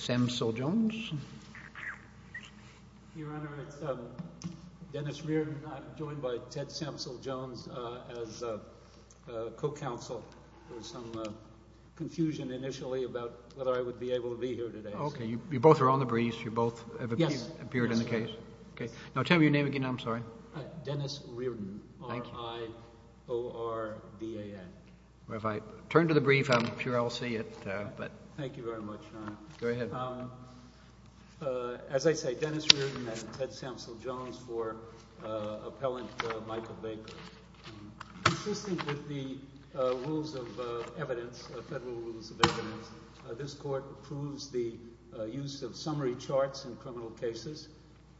Samsel Jones Your Honor, it's Dennis Reardon. I'm joined by Ted Samsel Jones as a co-counsel. There was some confusion initially about whether I would be able to be here today. Okay, you both are on the briefs, you both have appeared in the case. Now tell me your name again, I'm sorry. Dennis Reardon. R-I-O-R-D-A-N. Well, if I turn to the brief, I'm sure I'll see it. Thank you very much, Your Honor. Go ahead. As I say, Dennis Reardon and Ted Samsel Jones for Appellant Michael Baker. Consistent with the rules of evidence, the federal rules of evidence, this Court approves the use of summary charts in criminal cases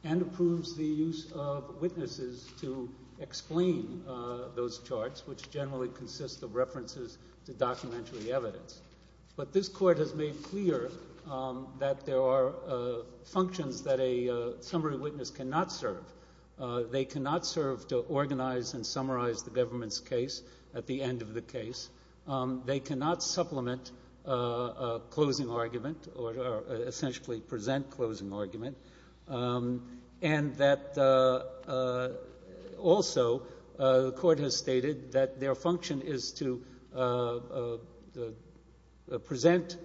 and approves the use of witnesses to explain those charts, which generally consist of references to documentary evidence. But this Court has made clear that there are functions that a summary witness cannot serve. They cannot serve to organize and summarize the government's case at the end of the case. They cannot supplement a closing argument or essentially present a closing argument. And that also the Court has stated that their function is to present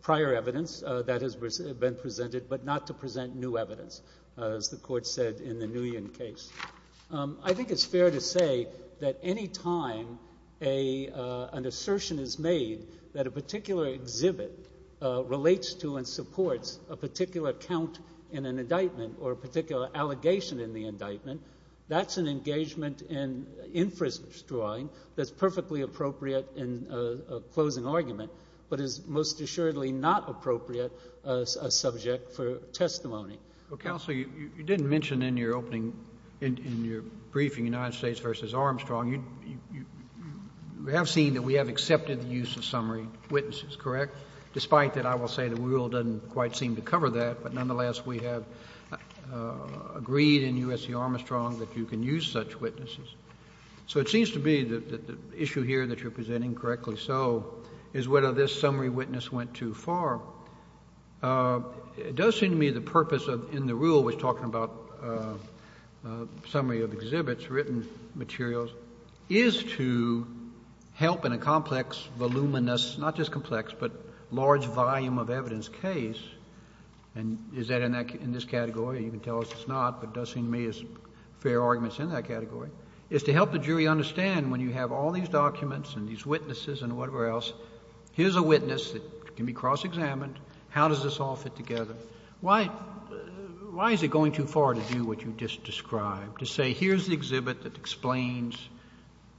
prior evidence that has been presented but not to present new evidence, as the Court said in the Nguyen case. I think it's fair to say that any time an assertion is made that a particular exhibit relates to and supports a particular count in an indictment or a particular allegation in the indictment, that's an engagement in inference drawing that's perfectly appropriate in a closing argument but is most assuredly not appropriate as a subject for testimony. Counsel, you didn't mention in your opening, in your briefing, United States v. Armstrong, you have seen that we have accepted the use of summary witnesses, correct, despite that I will say the rule doesn't quite seem to cover that, but nonetheless we have agreed in U.S. v. Armstrong that you can use such witnesses. So it seems to me that the issue here that you're presenting correctly, so, is whether this summary witness went too far. It does seem to me the purpose in the rule was talking about summary of exhibits, written materials, is to help in a complex, voluminous, not just complex, but large volume of evidence case. And is that in this category? You can tell us it's not, but it does seem to me as fair arguments in that category. It's to help the jury understand when you have all these documents and these witnesses and whatever else, here's a witness that can be cross-examined. How does this all fit together? Why is it going too far to do what you just described? To say here's the exhibit that explains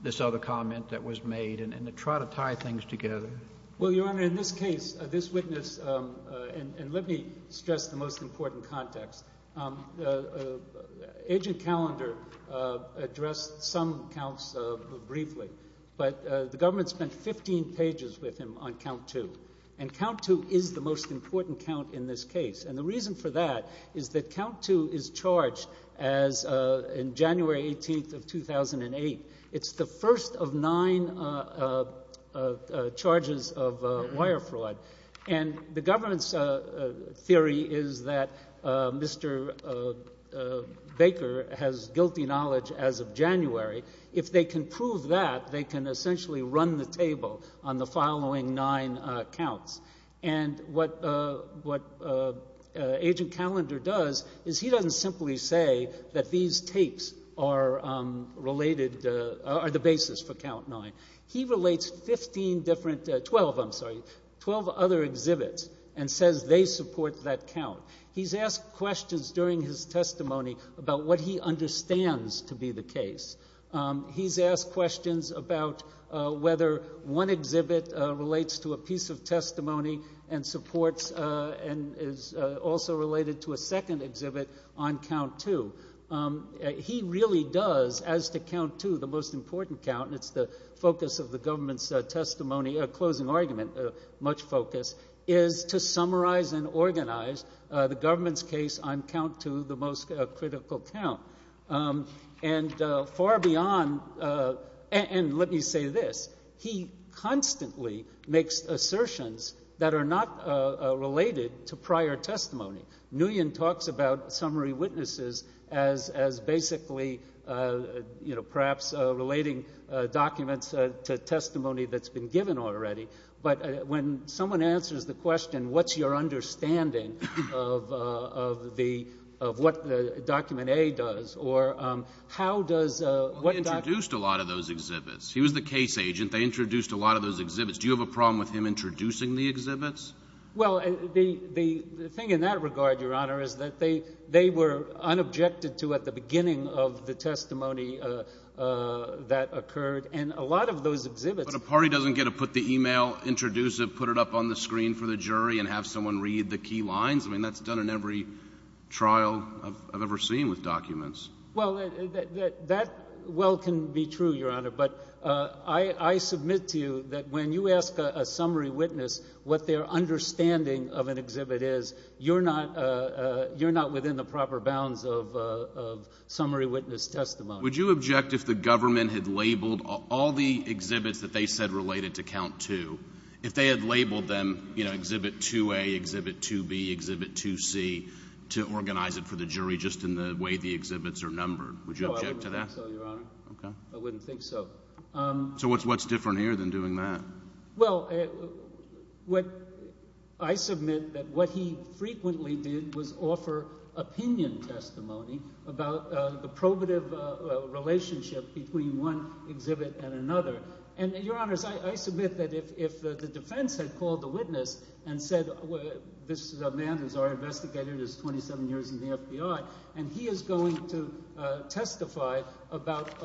this other comment that was made and to try to tie things together? Well, Your Honor, in this case, this witness, and let me stress the most important context. Agent Callender addressed some counts briefly, but the government spent 15 pages with him on count two. And count two is the most important count in this case. And the reason for that is that count two is charged in January 18th of 2008. It's the first of nine charges of wire fraud. And the government's theory is that Mr. Baker has guilty knowledge as of January. If they can prove that, they can essentially run the table on the following nine counts. And what Agent Callender does is he doesn't simply say that these tapes are the basis for count nine. He relates 12 other exhibits and says they support that count. He's asked questions during his testimony about what he understands to be the case. He's asked questions about whether one exhibit relates to a piece of testimony and supports and is also related to a second exhibit on count two. He really does, as to count two, the most important count, and it's the focus of the government's closing argument, much focus, is to summarize and organize the government's case on count two, the most critical count. And far beyond, and let me say this, he constantly makes assertions that are not related to prior testimony. Nguyen talks about summary witnesses as basically, you know, perhaps relating documents to testimony that's been given already. But when someone answers the question, what's your understanding of what the document A does, or how does what document- He introduced a lot of those exhibits. He was the case agent. They introduced a lot of those exhibits. Do you have a problem with him introducing the exhibits? Well, the thing in that regard, Your Honor, is that they were unobjected to at the beginning of the testimony that occurred. And a lot of those exhibits- But a party doesn't get to put the email, introduce it, put it up on the screen for the jury, and have someone read the key lines? I mean, that's done in every trial I've ever seen with documents. Well, that well can be true, Your Honor, but I submit to you that when you ask a summary witness what their understanding of an exhibit is, you're not within the proper bounds of summary witness testimony. Would you object if the government had labeled all the exhibits that they said related to count two, if they had labeled them, you know, exhibit 2A, exhibit 2B, exhibit 2C, to organize it for the jury just in the way the exhibits are numbered? Would you object to that? No, I wouldn't think so, Your Honor. Okay. I wouldn't think so. So what's different here than doing that? Well, I submit that what he frequently did was offer opinion testimony about the probative relationship between one exhibit and another. And, Your Honors, I submit that if the defense had called the witness and said, this is a man who's already investigated, he's 27 years in the FBI, and he is going to testify about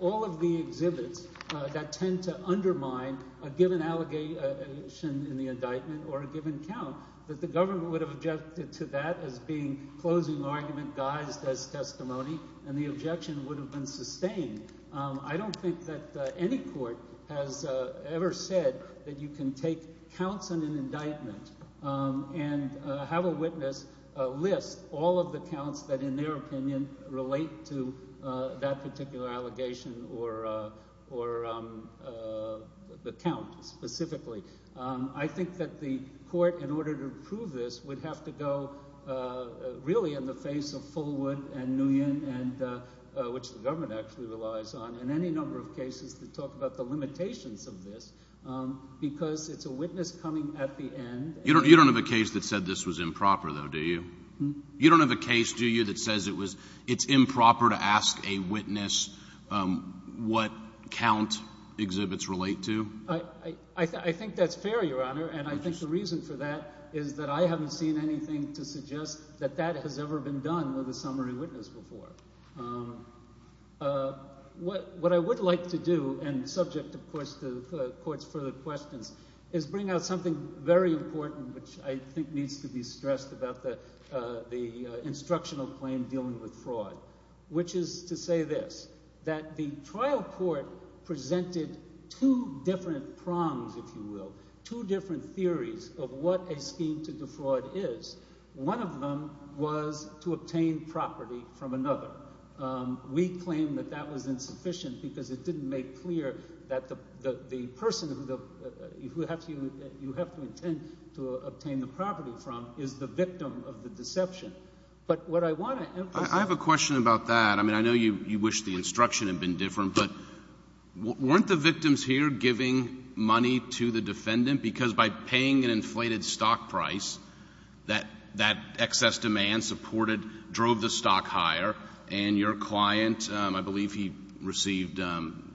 all of the exhibits that tend to undermine a given allegation in the indictment or a given count, that the government would have objected to that as being closing argument, guised as testimony, and the objection would have been sustained. I don't think that any court has ever said that you can take counts in an indictment and have a witness list all of the counts that, in their opinion, relate to that particular allegation or the count specifically. I think that the court, in order to prove this, would have to go really in the face of Fullwood and Nguyen, which the government actually relies on in any number of cases to talk about the limitations of this because it's a witness coming at the end. You don't have a case that said this was improper, though, do you? You don't have a case, do you, that says it's improper to ask a witness what count exhibits relate to? I think that's fair, Your Honor, and I think the reason for that is that I haven't seen anything to suggest that that has ever been done with a summary witness before. What I would like to do, and subject, of course, to the court's further questions, is bring out something very important which I think needs to be stressed about the instructional claim dealing with fraud, which is to say this, that the trial court presented two different prongs, if you will, two different theories of what a scheme to defraud is. One of them was to obtain property from another. We claim that that was insufficient because it didn't make clear that the person who you have to intend to obtain the property from is the victim of the deception. But what I want to emphasize— I have a question about that. I mean, I know you wish the instruction had been different, but weren't the victims here giving money to the defendant? Because by paying an inflated stock price, that excess demand supported, drove the stock higher, and your client, I believe he received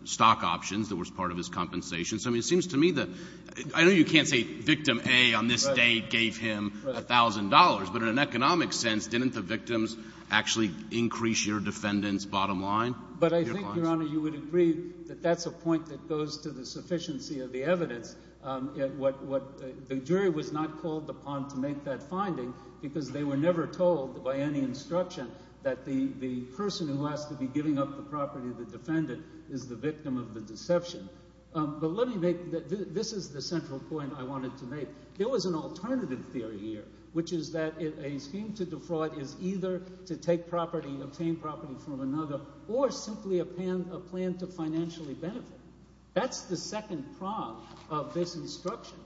stock options that was part of his compensation. So, I mean, it seems to me that—I know you can't say victim A on this day gave him $1,000, but in an economic sense, didn't the victims actually increase your defendant's bottom line? But I think, Your Honor, you would agree that that's a point that goes to the sufficiency of the evidence. The jury was not called upon to make that finding because they were never told by any instruction that the person who has to be giving up the property of the defendant is the victim of the deception. But let me make—this is the central point I wanted to make. There was an alternative theory here, which is that a scheme to defraud is either to take property, obtain property from another, or simply a plan to financially benefit. That's the second prong of this instruction.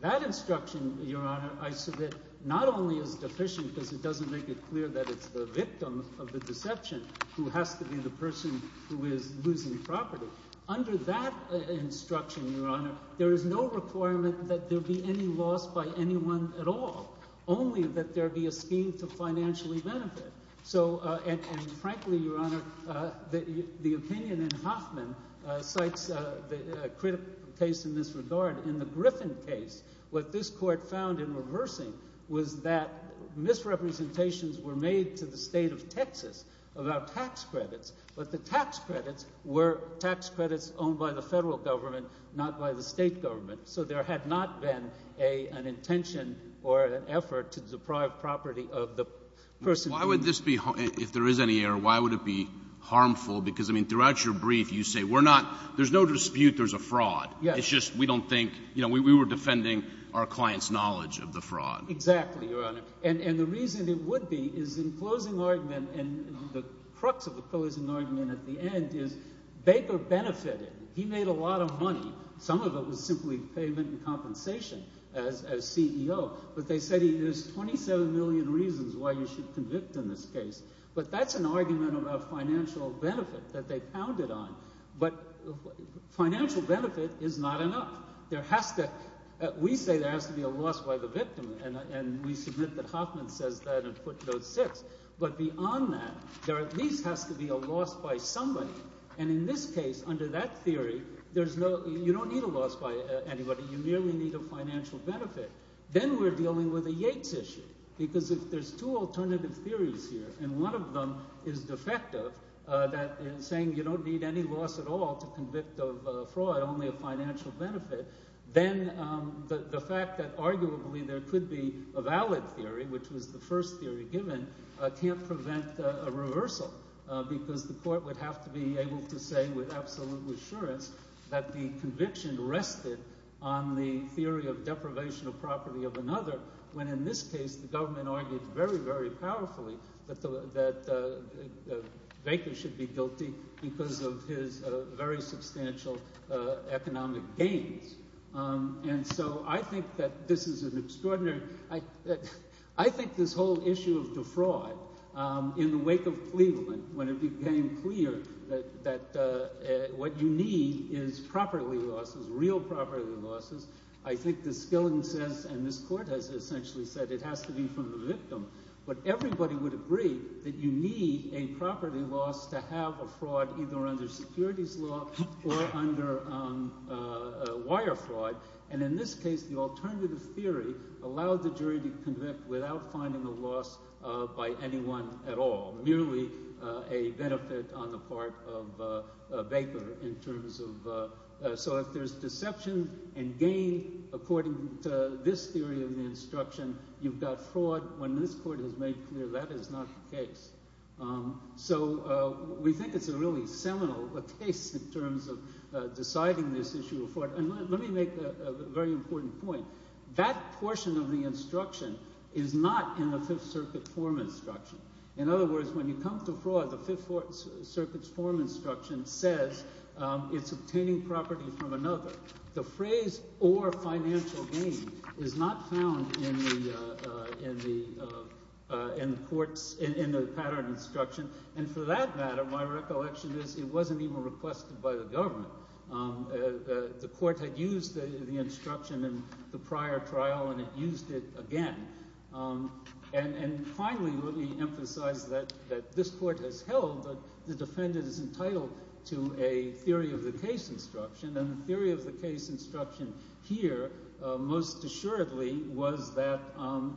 That instruction, Your Honor, I submit, not only is deficient because it doesn't make it clear that it's the victim of the deception who has to be the person who is losing property. Under that instruction, Your Honor, there is no requirement that there be any loss by anyone at all, only that there be a scheme to financially benefit. So—and frankly, Your Honor, the opinion in Hoffman cites a critical case in this regard. In the Griffin case, what this court found in reversing was that misrepresentations were made to the state of Texas about tax credits, but the tax credits were tax credits owned by the Federal Government, not by the State Government. So there had not been an intention or an effort to deprive property of the person— Why would this be—if there is any error, why would it be harmful? Because, I mean, throughout your brief, you say we're not—there's no dispute there's a fraud. Yes. It's just we don't think—you know, we were defending our client's knowledge of the fraud. Exactly, Your Honor. And the reason it would be is in closing argument and the crux of the closing argument at the end is Baker benefited. He made a lot of money. Some of it was simply payment and compensation as CEO, but they said there's 27 million reasons why you should convict in this case. But that's an argument about financial benefit that they pounded on. But financial benefit is not enough. There has to—we say there has to be a loss by the victim, and we submit that Hoffman says that and put those six. But beyond that, there at least has to be a loss by somebody. And in this case, under that theory, there's no—you don't need a loss by anybody. You merely need a financial benefit. Then we're dealing with a Yates issue because if there's two alternative theories here, and one of them is defective, saying you don't need any loss at all to convict of fraud, only a financial benefit, then the fact that arguably there could be a valid theory, which was the first theory given, can't prevent a reversal because the court would have to be able to say with absolute assurance that the conviction rested on the theory of deprivation of property of another. When in this case, the government argued very, very powerfully that Baker should be guilty because of his very substantial economic gains. And so I think that this is an extraordinary—I think this whole issue of defraud in the wake of Cleveland, when it became clear that what you need is property losses, real property losses, I think the skill and sense—and this court has essentially said it has to be from the victim. But everybody would agree that you need a property loss to have a fraud either under securities law or under wire fraud. And in this case, the alternative theory allowed the jury to convict without finding a loss by anyone at all, merely a benefit on the part of Baker in terms of— meaning according to this theory of the instruction, you've got fraud. When this court has made clear that is not the case. So we think it's a really seminal case in terms of deciding this issue of fraud. And let me make a very important point. That portion of the instruction is not in the Fifth Circuit form instruction. In other words, when you come to fraud, the Fifth Circuit's form instruction says it's obtaining property from another. The phrase or financial gain is not found in the court's—in the pattern instruction. And for that matter, my recollection is it wasn't even requested by the government. The court had used the instruction in the prior trial and it used it again. And finally, let me emphasize that this court has held that the defendant is entitled to a theory of the case instruction and the theory of the case instruction here most assuredly was that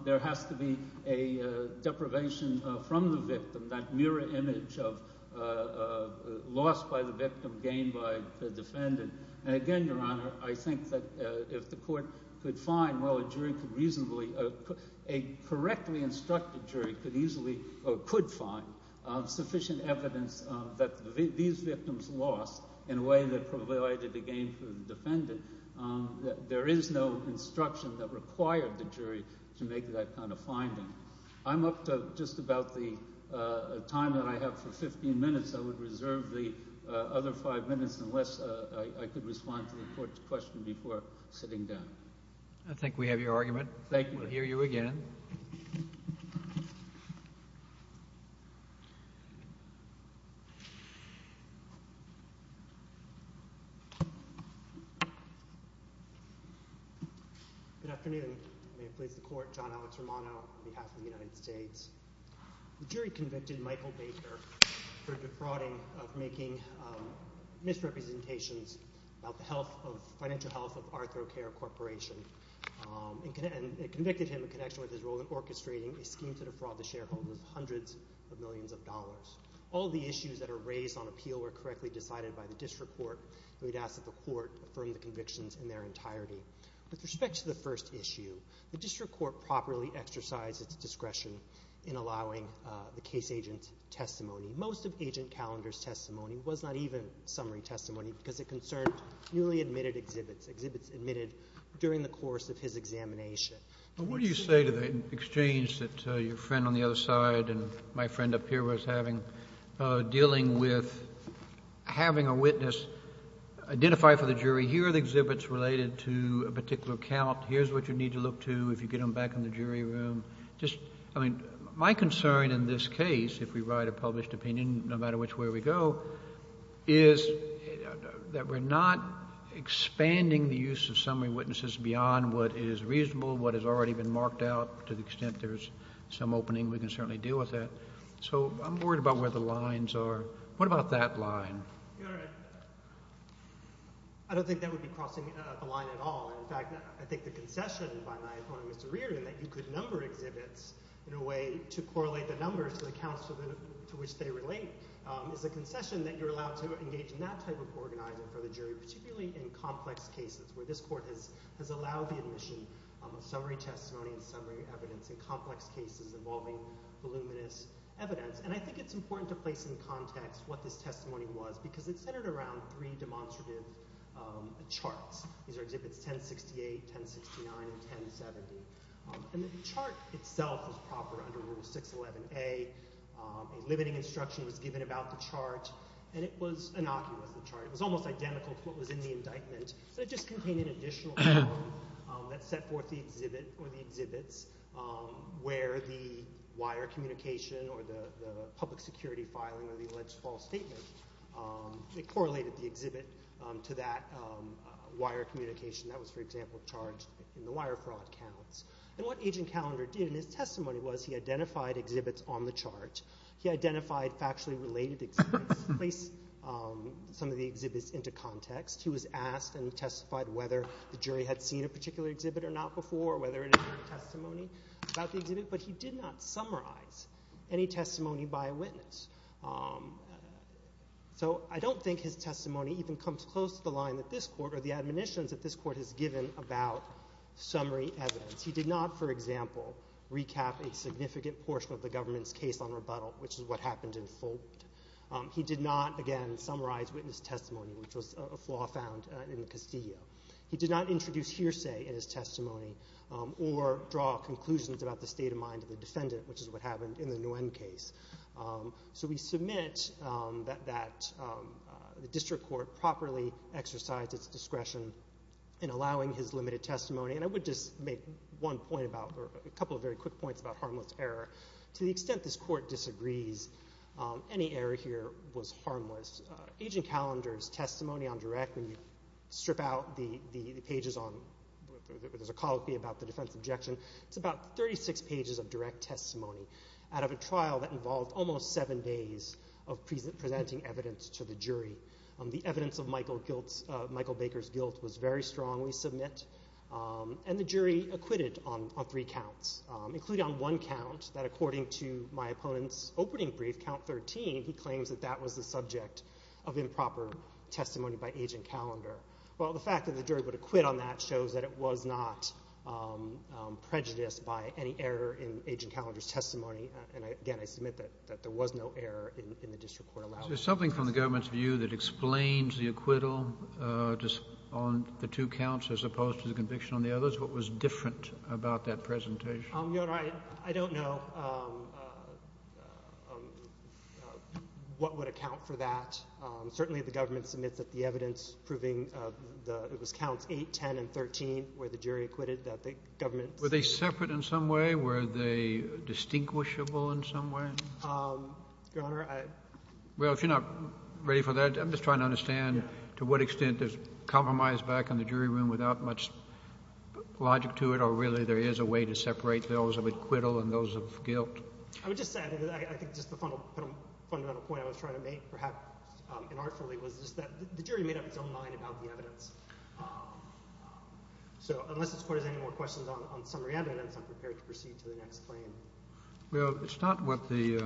there has to be a deprivation from the victim, that mirror image of loss by the victim, gain by the defendant. And again, Your Honor, I think that if the court could find—well, a jury could reasonably— there is no instruction that required the jury to make that kind of finding. I'm up to just about the time that I have for 15 minutes. I would reserve the other five minutes unless I could respond to the court's question before sitting down. I think we have your argument. Thank you. We'll hear you again. Good afternoon. May it please the court, John Alex Romano on behalf of the United States. The jury convicted Michael Baker for defrauding of making misrepresentations about the health of— financial health of ArthroCare Corporation. And it convicted him in connection with his role in orchestrating a scheme to defraud the shareholders of hundreds of millions of dollars. All the issues that are raised on appeal were correctly decided by the district court. And we'd ask that the court affirm the convictions in their entirety. With respect to the first issue, the district court properly exercised its discretion in allowing the case agent's testimony. Most of Agent Callender's testimony was not even summary testimony because it concerned newly admitted exhibits, exhibits admitted during the course of his examination. But what do you say to the exchange that your friend on the other side and my friend up here was having, dealing with having a witness identify for the jury, here are the exhibits related to a particular account, here's what you need to look to if you get them back in the jury room. Just, I mean, my concern in this case, if we write a published opinion, no matter which way we go, is that we're not expanding the use of summary witnesses beyond what is reasonable, what has already been marked out to the extent there's some opening. We can certainly deal with that. So I'm worried about where the lines are. What about that line? I don't think that would be crossing the line at all. In fact, I think the concession by my opponent, Mr. Reardon, that you could number exhibits in a way to correlate the numbers to the accounts to which they relate is a concession that you're allowed to engage in that type of organizing for the jury, particularly in complex cases where this court has allowed the admission of summary testimony and summary evidence in complex cases involving voluminous evidence. And I think it's important to place in context what this testimony was because it's centered around three demonstrative charts. These are exhibits 1068, 1069, and 1070. And the chart itself is proper under Rule 611A. A limiting instruction was given about the chart, and it was innocuous, the chart. It was almost identical to what was in the indictment. So it just contained an additional column that set forth the exhibit or the exhibits where the wire communication or the public security filing or the alleged false statement, it correlated the exhibit to that wire communication. That was, for example, charged in the wire fraud counts. And what Agent Callender did in his testimony was he identified exhibits on the chart. He identified factually related exhibits, placed some of the exhibits into context. He was asked and testified whether the jury had seen a particular exhibit or not before, whether it had testimony about the exhibit, but he did not summarize any testimony by a witness. So I don't think his testimony even comes close to the line that this court or the admonitions that this court has given about summary evidence. He did not, for example, recap a significant portion of the government's case on rebuttal, which is what happened in Fulton. He did not, again, summarize witness testimony, which was a flaw found in the Castillo. He did not introduce hearsay in his testimony or draw conclusions about the state of mind of the defendant, which is what happened in the Nguyen case. So we submit that the district court properly exercised its discretion in allowing his limited testimony. And I would just make one point about or a couple of very quick points about harmless error. To the extent this court disagrees, any error here was harmless. Agent Callender's testimony on direct, when you strip out the pages on where there's a colloquy about the defense objection, it's about 36 pages of direct testimony out of a trial that involved almost seven days of presenting evidence to the jury. The evidence of Michael Baker's guilt was very strong, we submit. And the jury acquitted on three counts, including on one count, that according to my opponent's opening brief, count 13, he claims that that was the subject of improper testimony by Agent Callender. Well, the fact that the jury would acquit on that shows that it was not prejudiced by any error in Agent Callender's testimony. And, again, I submit that there was no error in the district court allowance. Is there something from the government's view that explains the acquittal on the two counts as opposed to the conviction on the others? What was different about that presentation? Your Honor, I don't know what would account for that. Certainly, the government submits the evidence proving it was counts 8, 10, and 13 where the jury acquitted that the government's— Were they separate in some way? Were they distinguishable in some way? Your Honor, I— Well, if you're not ready for that, I'm just trying to understand to what extent there's compromise back in the jury room without much logic to it or really there is a way to separate those of acquittal and those of guilt. I would just say, I think just the fundamental point I was trying to make, perhaps inartfully, was just that the jury made up its own mind about the evidence. So unless this Court has any more questions on summary evidence, I'm prepared to proceed to the next claim. Well, it's not what the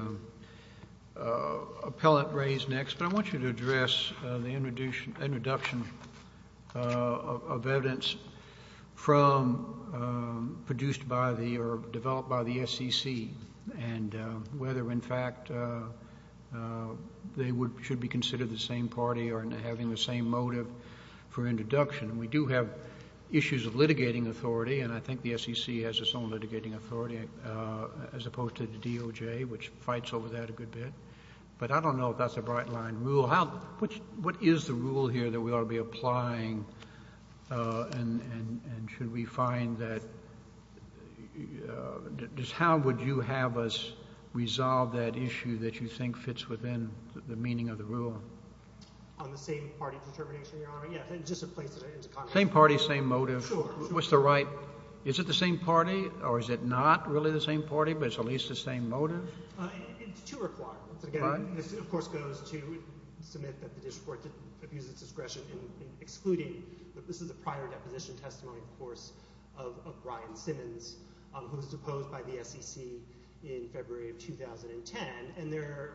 appellant raised next, but I want you to address the introduction of evidence produced by or developed by the SEC and whether, in fact, they should be considered the same party or having the same motive for introduction. We do have issues of litigating authority, and I think the SEC has its own litigating authority as opposed to the DOJ, which fights over that a good bit. But I don't know if that's a bright-line rule. What is the rule here that we ought to be applying, and should we find that—just how would you have us resolve that issue that you think fits within the meaning of the rule? On the same party determination, Your Honor? Yes, just to place it into context. Same party, same motive. Sure. What's the right—is it the same party, or is it not really the same party, but it's at least the same motive? It's two requirements. Again, this, of course, goes to submit that the district court didn't abuse its discretion in excluding. This is a prior deposition testimony, of course, of Brian Simmons, who was deposed by the SEC in February of 2010, and there's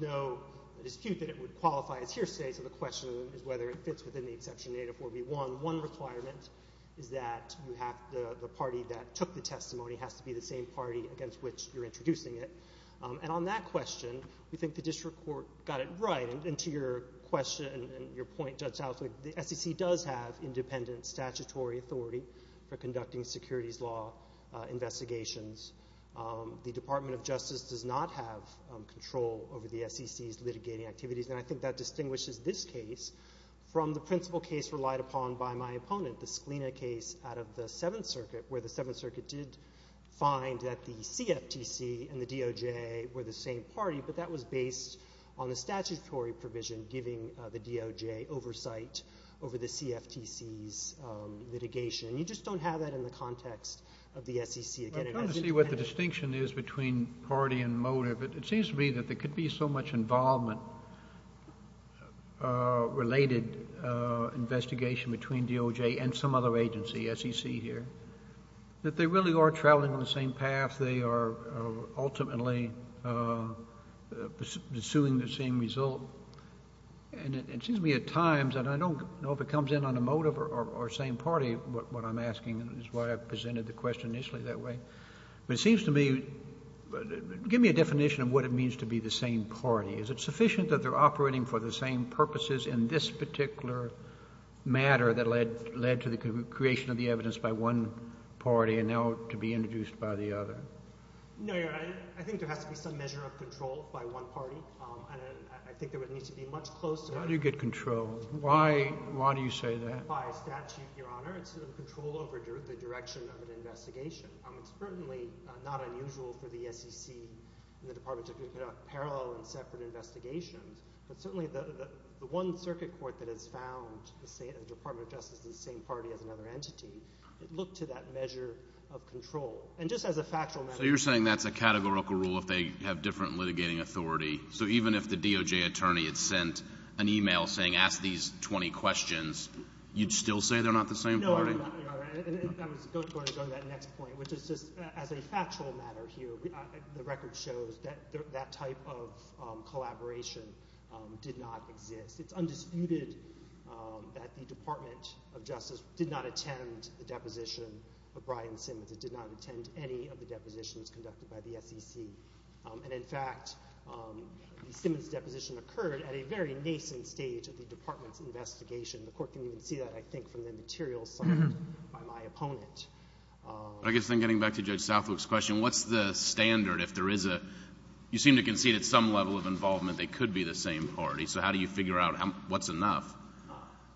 no dispute that it would qualify as hearsay, so the question is whether it fits within the Exception 8 of 4B1. One requirement is that the party that took the testimony has to be the same party against which you're introducing it. And on that question, we think the district court got it right. And to your question and your point, Judge Southwick, the SEC does have independent statutory authority for conducting securities law investigations. The Department of Justice does not have control over the SEC's litigating activities, and I think that distinguishes this case from the principal case relied upon by my opponent, the Scalina case out of the Seventh Circuit, where the Seventh Circuit did find that the CFTC and the DOJ were the same party, but that was based on the statutory provision giving the DOJ oversight over the CFTC's litigation. You just don't have that in the context of the SEC. I kind of see what the distinction is between party and motive. It seems to me that there could be so much involvement-related investigation between DOJ and some other agency, SEC here, that they really are traveling on the same path. They are ultimately pursuing the same result. And it seems to me at times, and I don't know if it comes in on a motive or same party, what I'm asking, and that's why I presented the question initially that way. But it seems to me – give me a definition of what it means to be the same party. Is it sufficient that they're operating for the same purposes in this particular matter that led to the creation of the evidence by one party and now to be introduced by the other? No, Your Honor. I think there has to be some measure of control by one party, and I think there needs to be much closer – How do you get control? Why do you say that? By statute, Your Honor, it's control over the direction of an investigation. It's certainly not unusual for the SEC and the Department of Justice to put up parallel and separate investigations. But certainly the one circuit court that has found the Department of Justice the same party as another entity, it looked to that measure of control. And just as a factual matter – So you're saying that's a categorical rule if they have different litigating authority? So even if the DOJ attorney had sent an email saying, ask these 20 questions, you'd still say they're not the same party? No, Your Honor. And I was going to go to that next point, which is just as a factual matter here, the record shows that that type of collaboration did not exist. It's undisputed that the Department of Justice did not attend the deposition of Brian Simmons. It did not attend any of the depositions conducted by the SEC. And, in fact, the Simmons deposition occurred at a very nascent stage of the Department's investigation. The Court can even see that, I think, from the materials submitted by my opponent. I guess then getting back to Judge Southwook's question, what's the standard if there is a – you seem to concede at some level of involvement they could be the same party. So how do you figure out what's enough?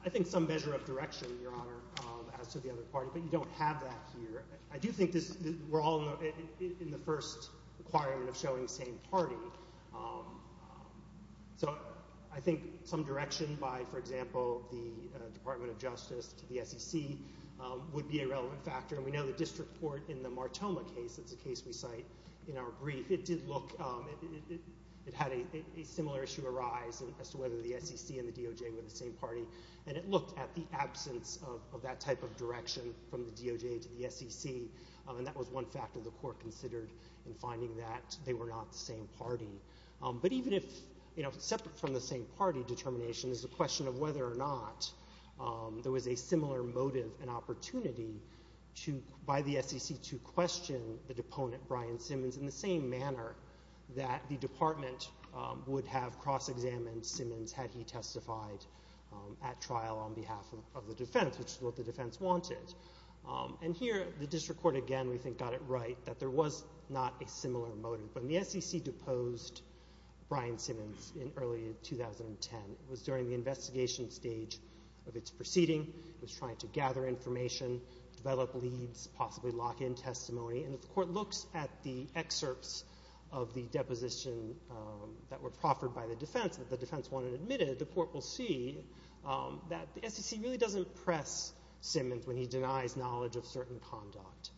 I think some measure of direction, Your Honor, as to the other party. But you don't have that here. I do think this – we're all in the first requirement of showing same party. So I think some direction by, for example, the Department of Justice to the SEC would be a relevant factor. And we know the district court in the Martoma case – it's a case we cite in our brief – it did look – it had a similar issue arise as to whether the SEC and the DOJ were the same party. And it looked at the absence of that type of direction from the DOJ to the SEC. And that was one factor the Court considered in finding that they were not the same party. But even if – you know, separate from the same party determination is the question of whether or not there was a similar motive and opportunity by the SEC to question the deponent, Brian Simmons, in the same manner that the department would have cross-examined Simmons had he testified at trial on behalf of the defense, which is what the defense wanted. And here the district court, again, we think got it right that there was not a similar motive. When the SEC deposed Brian Simmons in early 2010, it was during the investigation stage of its proceeding. It was trying to gather information, develop leads, possibly lock in testimony. And if the court looks at the excerpts of the deposition that were proffered by the defense that the defense wanted admitted, the court will see that the SEC really doesn't press Simmons when he denies knowledge of certain conduct.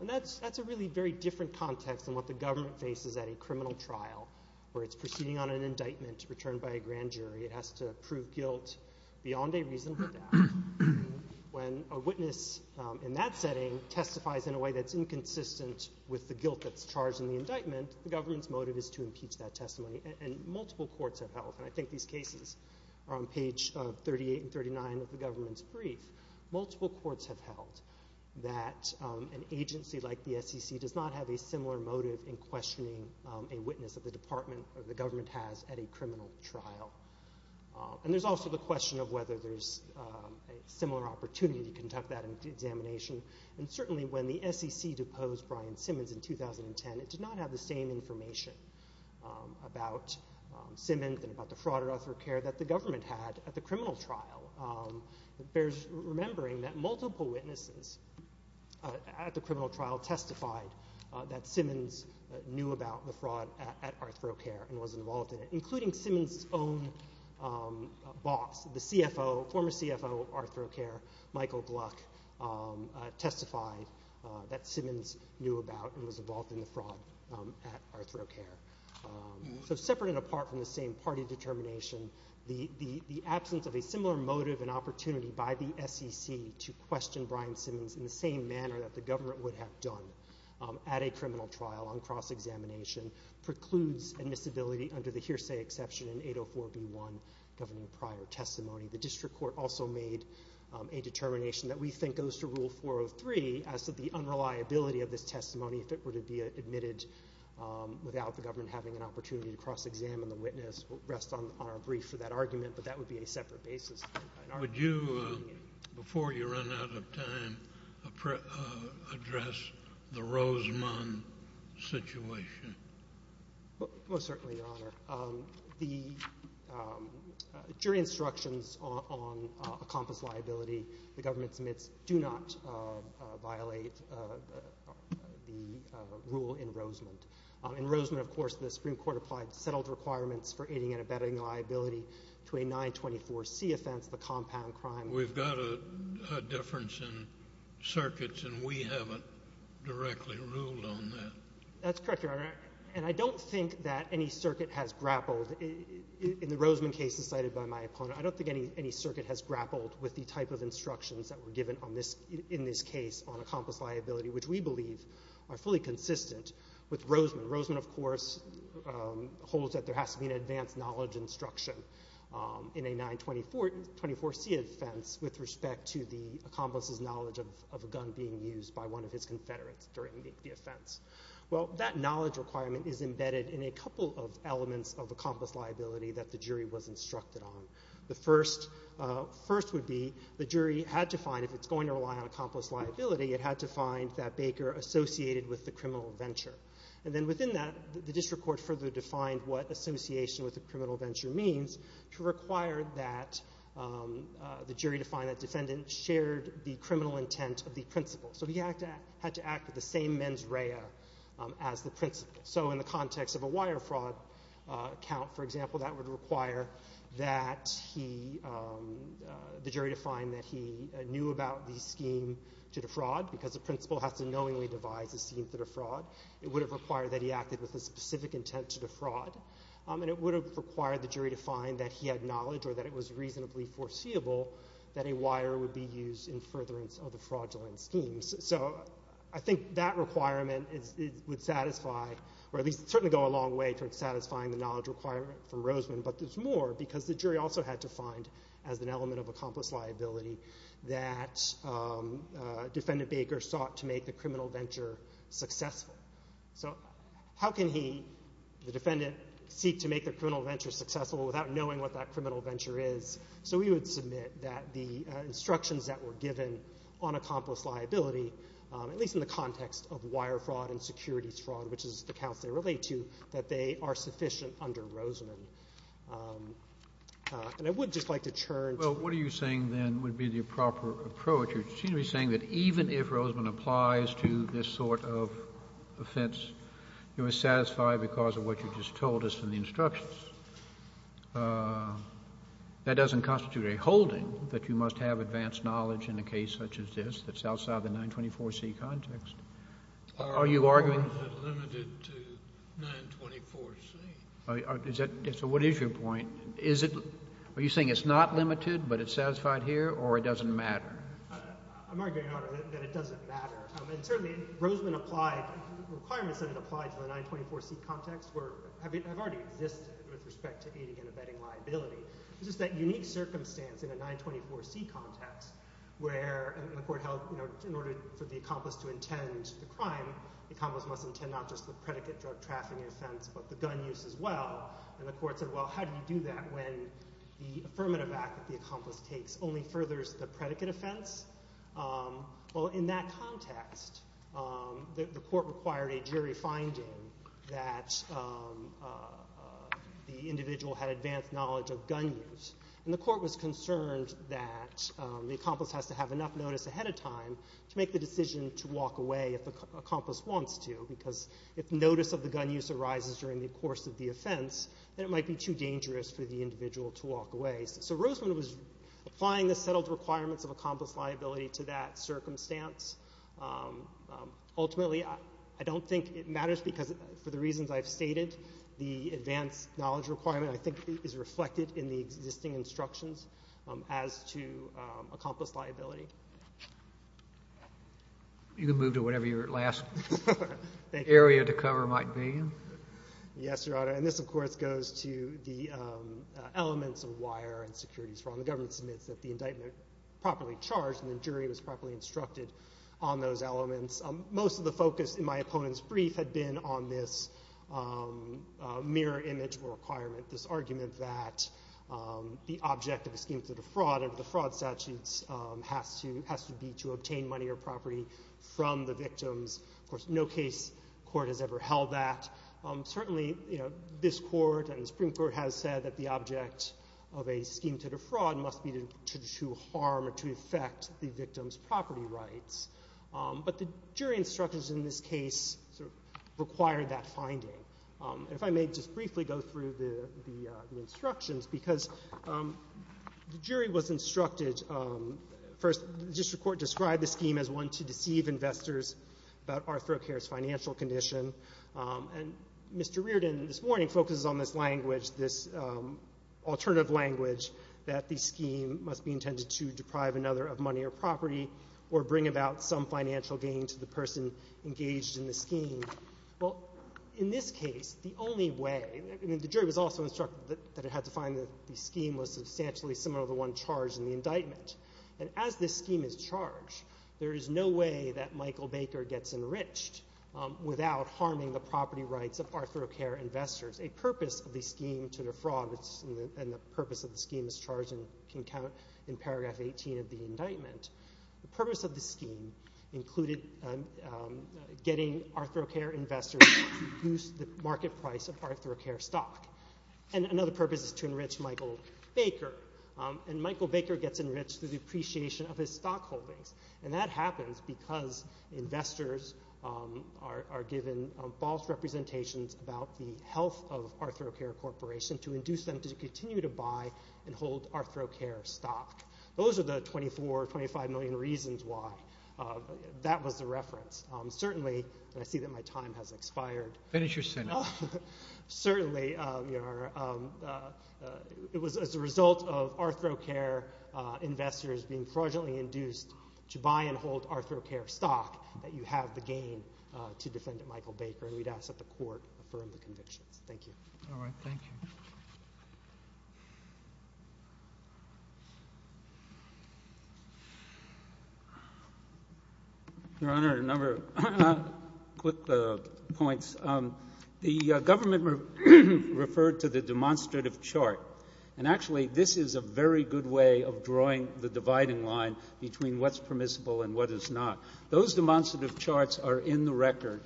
And that's a really very different context than what the government faces at a criminal trial where it's proceeding on an indictment returned by a grand jury. It has to prove guilt beyond a reasonable doubt. When a witness in that setting testifies in a way that's inconsistent with the guilt that's charged in the indictment, the government's motive is to impeach that testimony. And multiple courts have held, and I think these cases are on page 38 and 39 of the government's brief, multiple courts have held that an agency like the SEC does not have a similar motive in questioning a witness that the government has at a criminal trial. And there's also the question of whether there's a similar opportunity to conduct that examination. And certainly when the SEC deposed Brian Simmons in 2010, it did not have the same information about Simmons and about the fraud at ArthroCare that the government had at the criminal trial. It bears remembering that multiple witnesses at the criminal trial testified that Simmons knew about the fraud at ArthroCare and was involved in it, including Simmons's own boss, the former CFO of ArthroCare, Michael Gluck, testified that Simmons knew about and was involved in the fraud at ArthroCare. So separate and apart from the same party determination, the absence of a similar motive and opportunity by the SEC to question Brian Simmons in the same manner that the government would have done at a criminal trial on cross-examination precludes admissibility under the hearsay exception in 804B1 governing prior testimony. The district court also made a determination that we think goes to Rule 403 as to the unreliability of this testimony if it were to be admitted without the government having an opportunity to cross-examine the witness. We'll rest on our brief for that argument, but that would be a separate basis. Would you, before you run out of time, address the Rosemond situation? Most certainly, Your Honor. The jury instructions on a compass liability the government submits do not violate the rule in Rosemond. In Rosemond, of course, the Supreme Court applied settled requirements for aiding and abetting liability to a 924C offense, the compound crime. We've got a difference in circuits, and we haven't directly ruled on that. That's correct, Your Honor, and I don't think that any circuit has grappled. In the Rosemond case decided by my opponent, I don't think any circuit has grappled with the type of instructions that were given in this case on a compass liability, which we believe are fully consistent with Rosemond. Rosemond, of course, holds that there has to be an advanced knowledge instruction in a 924C offense with respect to the accomplice's knowledge of a gun being used by one of his confederates during the offense. Well, that knowledge requirement is embedded in a couple of elements of a compass liability that the jury was instructed on. The first would be the jury had to find, if it's going to rely on a compass liability, it had to find that Baker associated with the criminal venture. And then within that, the district court further defined what association with the criminal venture means to require that the jury define that defendant shared the criminal intent of the principle. So he had to act with the same mens rea as the principle. So in the context of a wire fraud account, for example, that would require that he, the jury define that he knew about the scheme to defraud because the principle has to knowingly devise a scheme to defraud. It would have required that he acted with a specific intent to defraud. And it would have required the jury to find that he had knowledge or that it was reasonably foreseeable that a wire would be used in furtherance of the fraudulent schemes. So I think that requirement would satisfy, or at least certainly go a long way towards satisfying the knowledge requirement from Rosemond. But there's more because the jury also had to find as an element of a compass liability that defendant Baker sought to make the criminal venture successful. So how can he, the defendant, seek to make the criminal venture successful without knowing what that criminal venture is? So we would submit that the instructions that were given on a compass liability, at least in the context of wire fraud and securities fraud, which is the counts they relate to, that they are sufficient under Rosemond. And I would just like to turn to the other questions. JUSTICE SCALIA. Well, what are you saying then would be the proper approach? You seem to be saying that even if Rosemond applies to this sort of offense, you are satisfied because of what you just told us in the instructions. That doesn't constitute a holding that you must have advanced knowledge in a case such as this that's outside the 924C context. Are you arguing— JUSTICE SCALIA. Are you arguing that limited to 924C? JUSTICE SCALIA. So what is your point? Are you saying it's not limited, but it's satisfied here, or it doesn't matter? MR. LIEBERMAN. I'm arguing, Your Honor, that it doesn't matter. And certainly Rosemond applied—requirements that it applied to the 924C context have already existed with respect to aiding and abetting liability. It's just that unique circumstance in a 924C context where, and the Court held in order for the accomplice to intend the crime, the accomplice must intend not just the predicate drug trafficking offense but the gun use as well. And the Court said, well, how do you do that when the affirmative act that the accomplice takes only furthers the predicate offense? Well, in that context, the Court required a jury finding that the individual had advanced knowledge of gun use. And the Court was concerned that the accomplice has to have enough notice ahead of time to make the decision to walk away if the accomplice wants to, because if notice of the gun use arises during the course of the offense, then it might be too dangerous for the individual to walk away. So Rosemond was applying the settled requirements of accomplice liability to that circumstance. Ultimately, I don't think it matters because, for the reasons I've stated, the advanced knowledge requirement, I think, is reflected in the existing instructions as to accomplice liability. You can move to whatever your last area to cover might be. Yes, Your Honor. And this, of course, goes to the elements of wire and securities. The government submits that the indictment is properly charged and the jury was properly instructed on those elements. Most of the focus in my opponent's brief had been on this mirror image requirement, this argument that the object of a scheme to defraud under the fraud statutes has to be to obtain money or property from the victims. Of course, no case court has ever held that. Certainly, this Court and the Supreme Court has said that the object of a scheme to defraud must be to harm or to affect the victim's property rights. But the jury instructions in this case required that finding. If I may just briefly go through the instructions, because the jury was instructed, first, the district court described the scheme as one to deceive investors about ArthroCare's financial condition, and Mr. Reardon this morning focuses on this language, this alternative language, that the scheme must be intended to deprive another of money or property or bring about some financial gain to the person engaged in the scheme. Well, in this case, the only way, and the jury was also instructed that it had to find that the scheme was substantially similar to the one charged in the indictment, and as this scheme is charged, there is no way that Michael Baker gets enriched without harming the property rights of ArthroCare investors. A purpose of the scheme to defraud, and the purpose of the scheme is charged and can count in paragraph 18 of the indictment. The purpose of the scheme included getting ArthroCare investors to reduce the market price of ArthroCare stock. And another purpose is to enrich Michael Baker, and Michael Baker gets enriched through the appreciation of his stock holdings, and that happens because investors are given false representations about the health of ArthroCare Corporation to induce them to continue to buy and hold ArthroCare stock. Those are the 24 or 25 million reasons why that was the reference. Certainly, and I see that my time has expired. Finish your sentence. Certainly, it was as a result of ArthroCare investors being fraudulently induced to buy and hold ArthroCare stock that you have the gain to defend Michael Baker, and we'd ask that the court affirm the convictions. Thank you. All right. Thank you. Your Honor, a number of quick points. The government referred to the demonstrative chart, and actually this is a very good way of drawing the dividing line between what's permissible and what is not. Those demonstrative charts are in the record.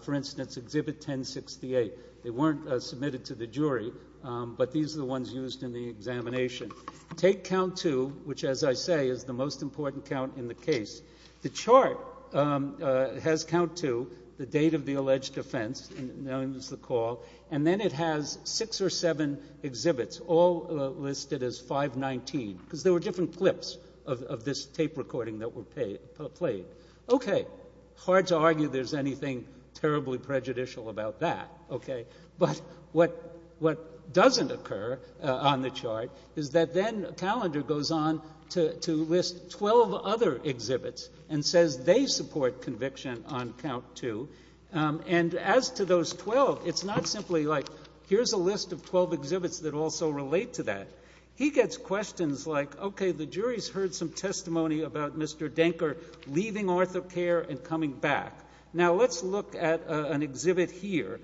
For instance, Exhibit 1068. They weren't submitted to the jury, but these are the ones used in the examination. Take Count 2, which, as I say, is the most important count in the case. The chart has Count 2, the date of the alleged offense, and then it has six or seven exhibits, all listed as 519, because there were different clips of this tape recording that were played. Okay. Hard to argue there's anything terribly prejudicial about that, okay? But what doesn't occur on the chart is that then Calendar goes on to list 12 other exhibits and says they support conviction on Count 2, and as to those 12, it's not simply like here's a list of 12 exhibits that also relate to that. He gets questions like, okay, the jury's heard some testimony about Mr. Denker leaving ArthoCare and coming back. Now let's look at an exhibit here.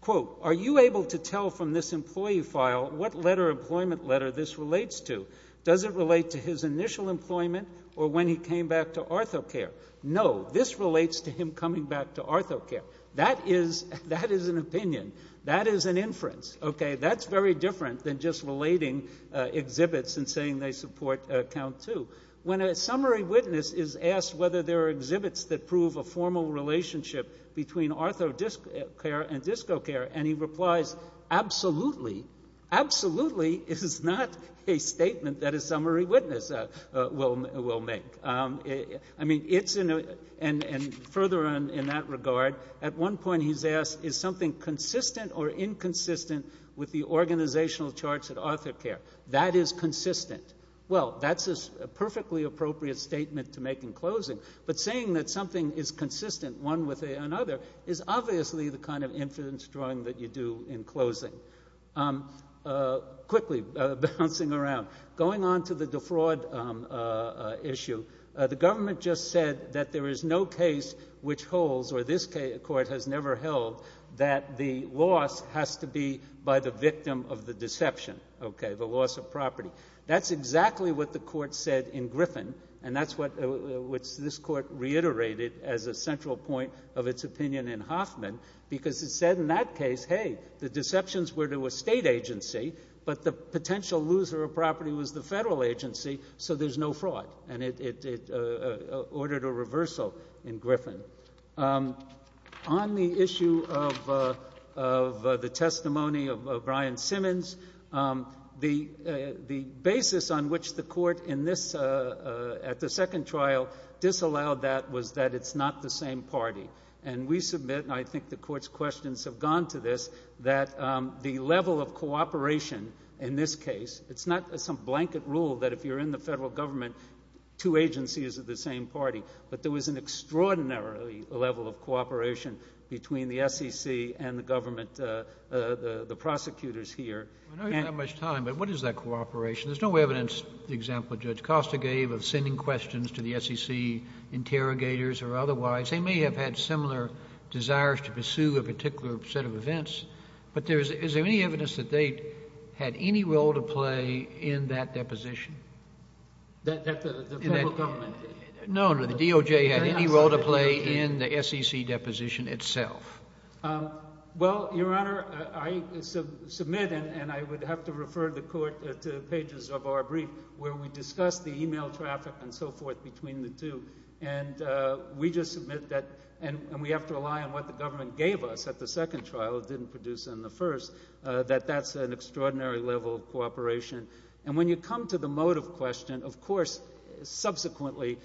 Quote, Are you able to tell from this employee file what letter, employment letter, this relates to? Does it relate to his initial employment or when he came back to ArthoCare? No. This relates to him coming back to ArthoCare. That is an opinion. That is an inference, okay? That's very different than just relating exhibits and saying they support Count 2. When a summary witness is asked whether there are exhibits that prove a formal relationship between ArthoCare and DiscoCare, and he replies, Absolutely. Absolutely is not a statement that a summary witness will make. I mean, it's in a ñ and further in that regard, at one point he's asked, Is something consistent or inconsistent with the organizational charts at ArthoCare? That is consistent. Well, that's a perfectly appropriate statement to make in closing. But saying that something is consistent, one with another, is obviously the kind of inference drawing that you do in closing. Quickly, bouncing around. Going on to the defraud issue, the government just said that there is no case which holds, or this court has never held, that the loss has to be by the victim of the deception, okay, the loss of property. That's exactly what the court said in Griffin, and that's what this court reiterated as a central point of its opinion in Hoffman, because it said in that case, hey, the deceptions were to a state agency, but the potential loser of property was the federal agency, so there's no fraud. And it ordered a reversal in Griffin. On the issue of the testimony of Brian Simmons, the basis on which the court at the second trial disallowed that was that it's not the same party. And we submit, and I think the court's questions have gone to this, that the level of cooperation in this case, it's not some blanket rule that if you're in the federal government, two agencies are the same party, but there was an extraordinary level of cooperation between the SEC and the government, the prosecutors here. I know you don't have much time, but what is that cooperation? There's no evidence, the example Judge Costa gave, of sending questions to the SEC interrogators or otherwise. They may have had similar desires to pursue a particular set of events, but is there any evidence that they had any role to play in that deposition? That the federal government? No, no, the DOJ had any role to play in the SEC deposition itself. Well, Your Honor, I submit, and I would have to refer the court to pages of our brief, where we discuss the e-mail traffic and so forth between the two, and we just submit that, and we have to rely on what the government gave us at the second trial, although it didn't produce in the first, that that's an extraordinary level of cooperation. And when you come to the motive question, of course, subsequently,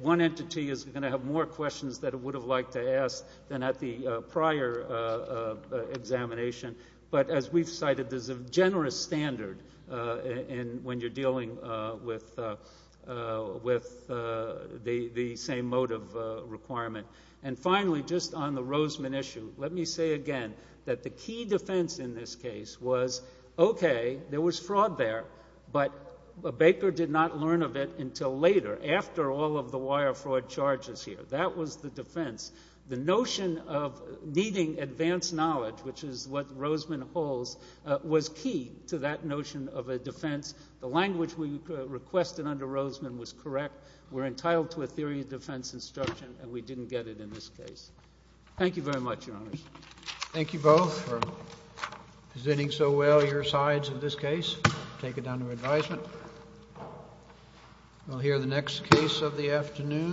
one entity is going to have more questions that it would have liked to ask than at the prior examination. But as we've cited, there's a generous standard when you're dealing with the same motive requirement. And finally, just on the Roseman issue, let me say again that the key defense in this case was, okay, there was fraud there, but Baker did not learn of it until later, after all of the wire fraud charges here. That was the defense. The notion of needing advanced knowledge, which is what Roseman holds, was key to that notion of a defense. The language we requested under Roseman was correct. We're entitled to a theory of defense instruction, and we didn't get it in this case. Thank you very much, Your Honors. Thank you both for presenting so well your sides in this case. Take it down to advisement.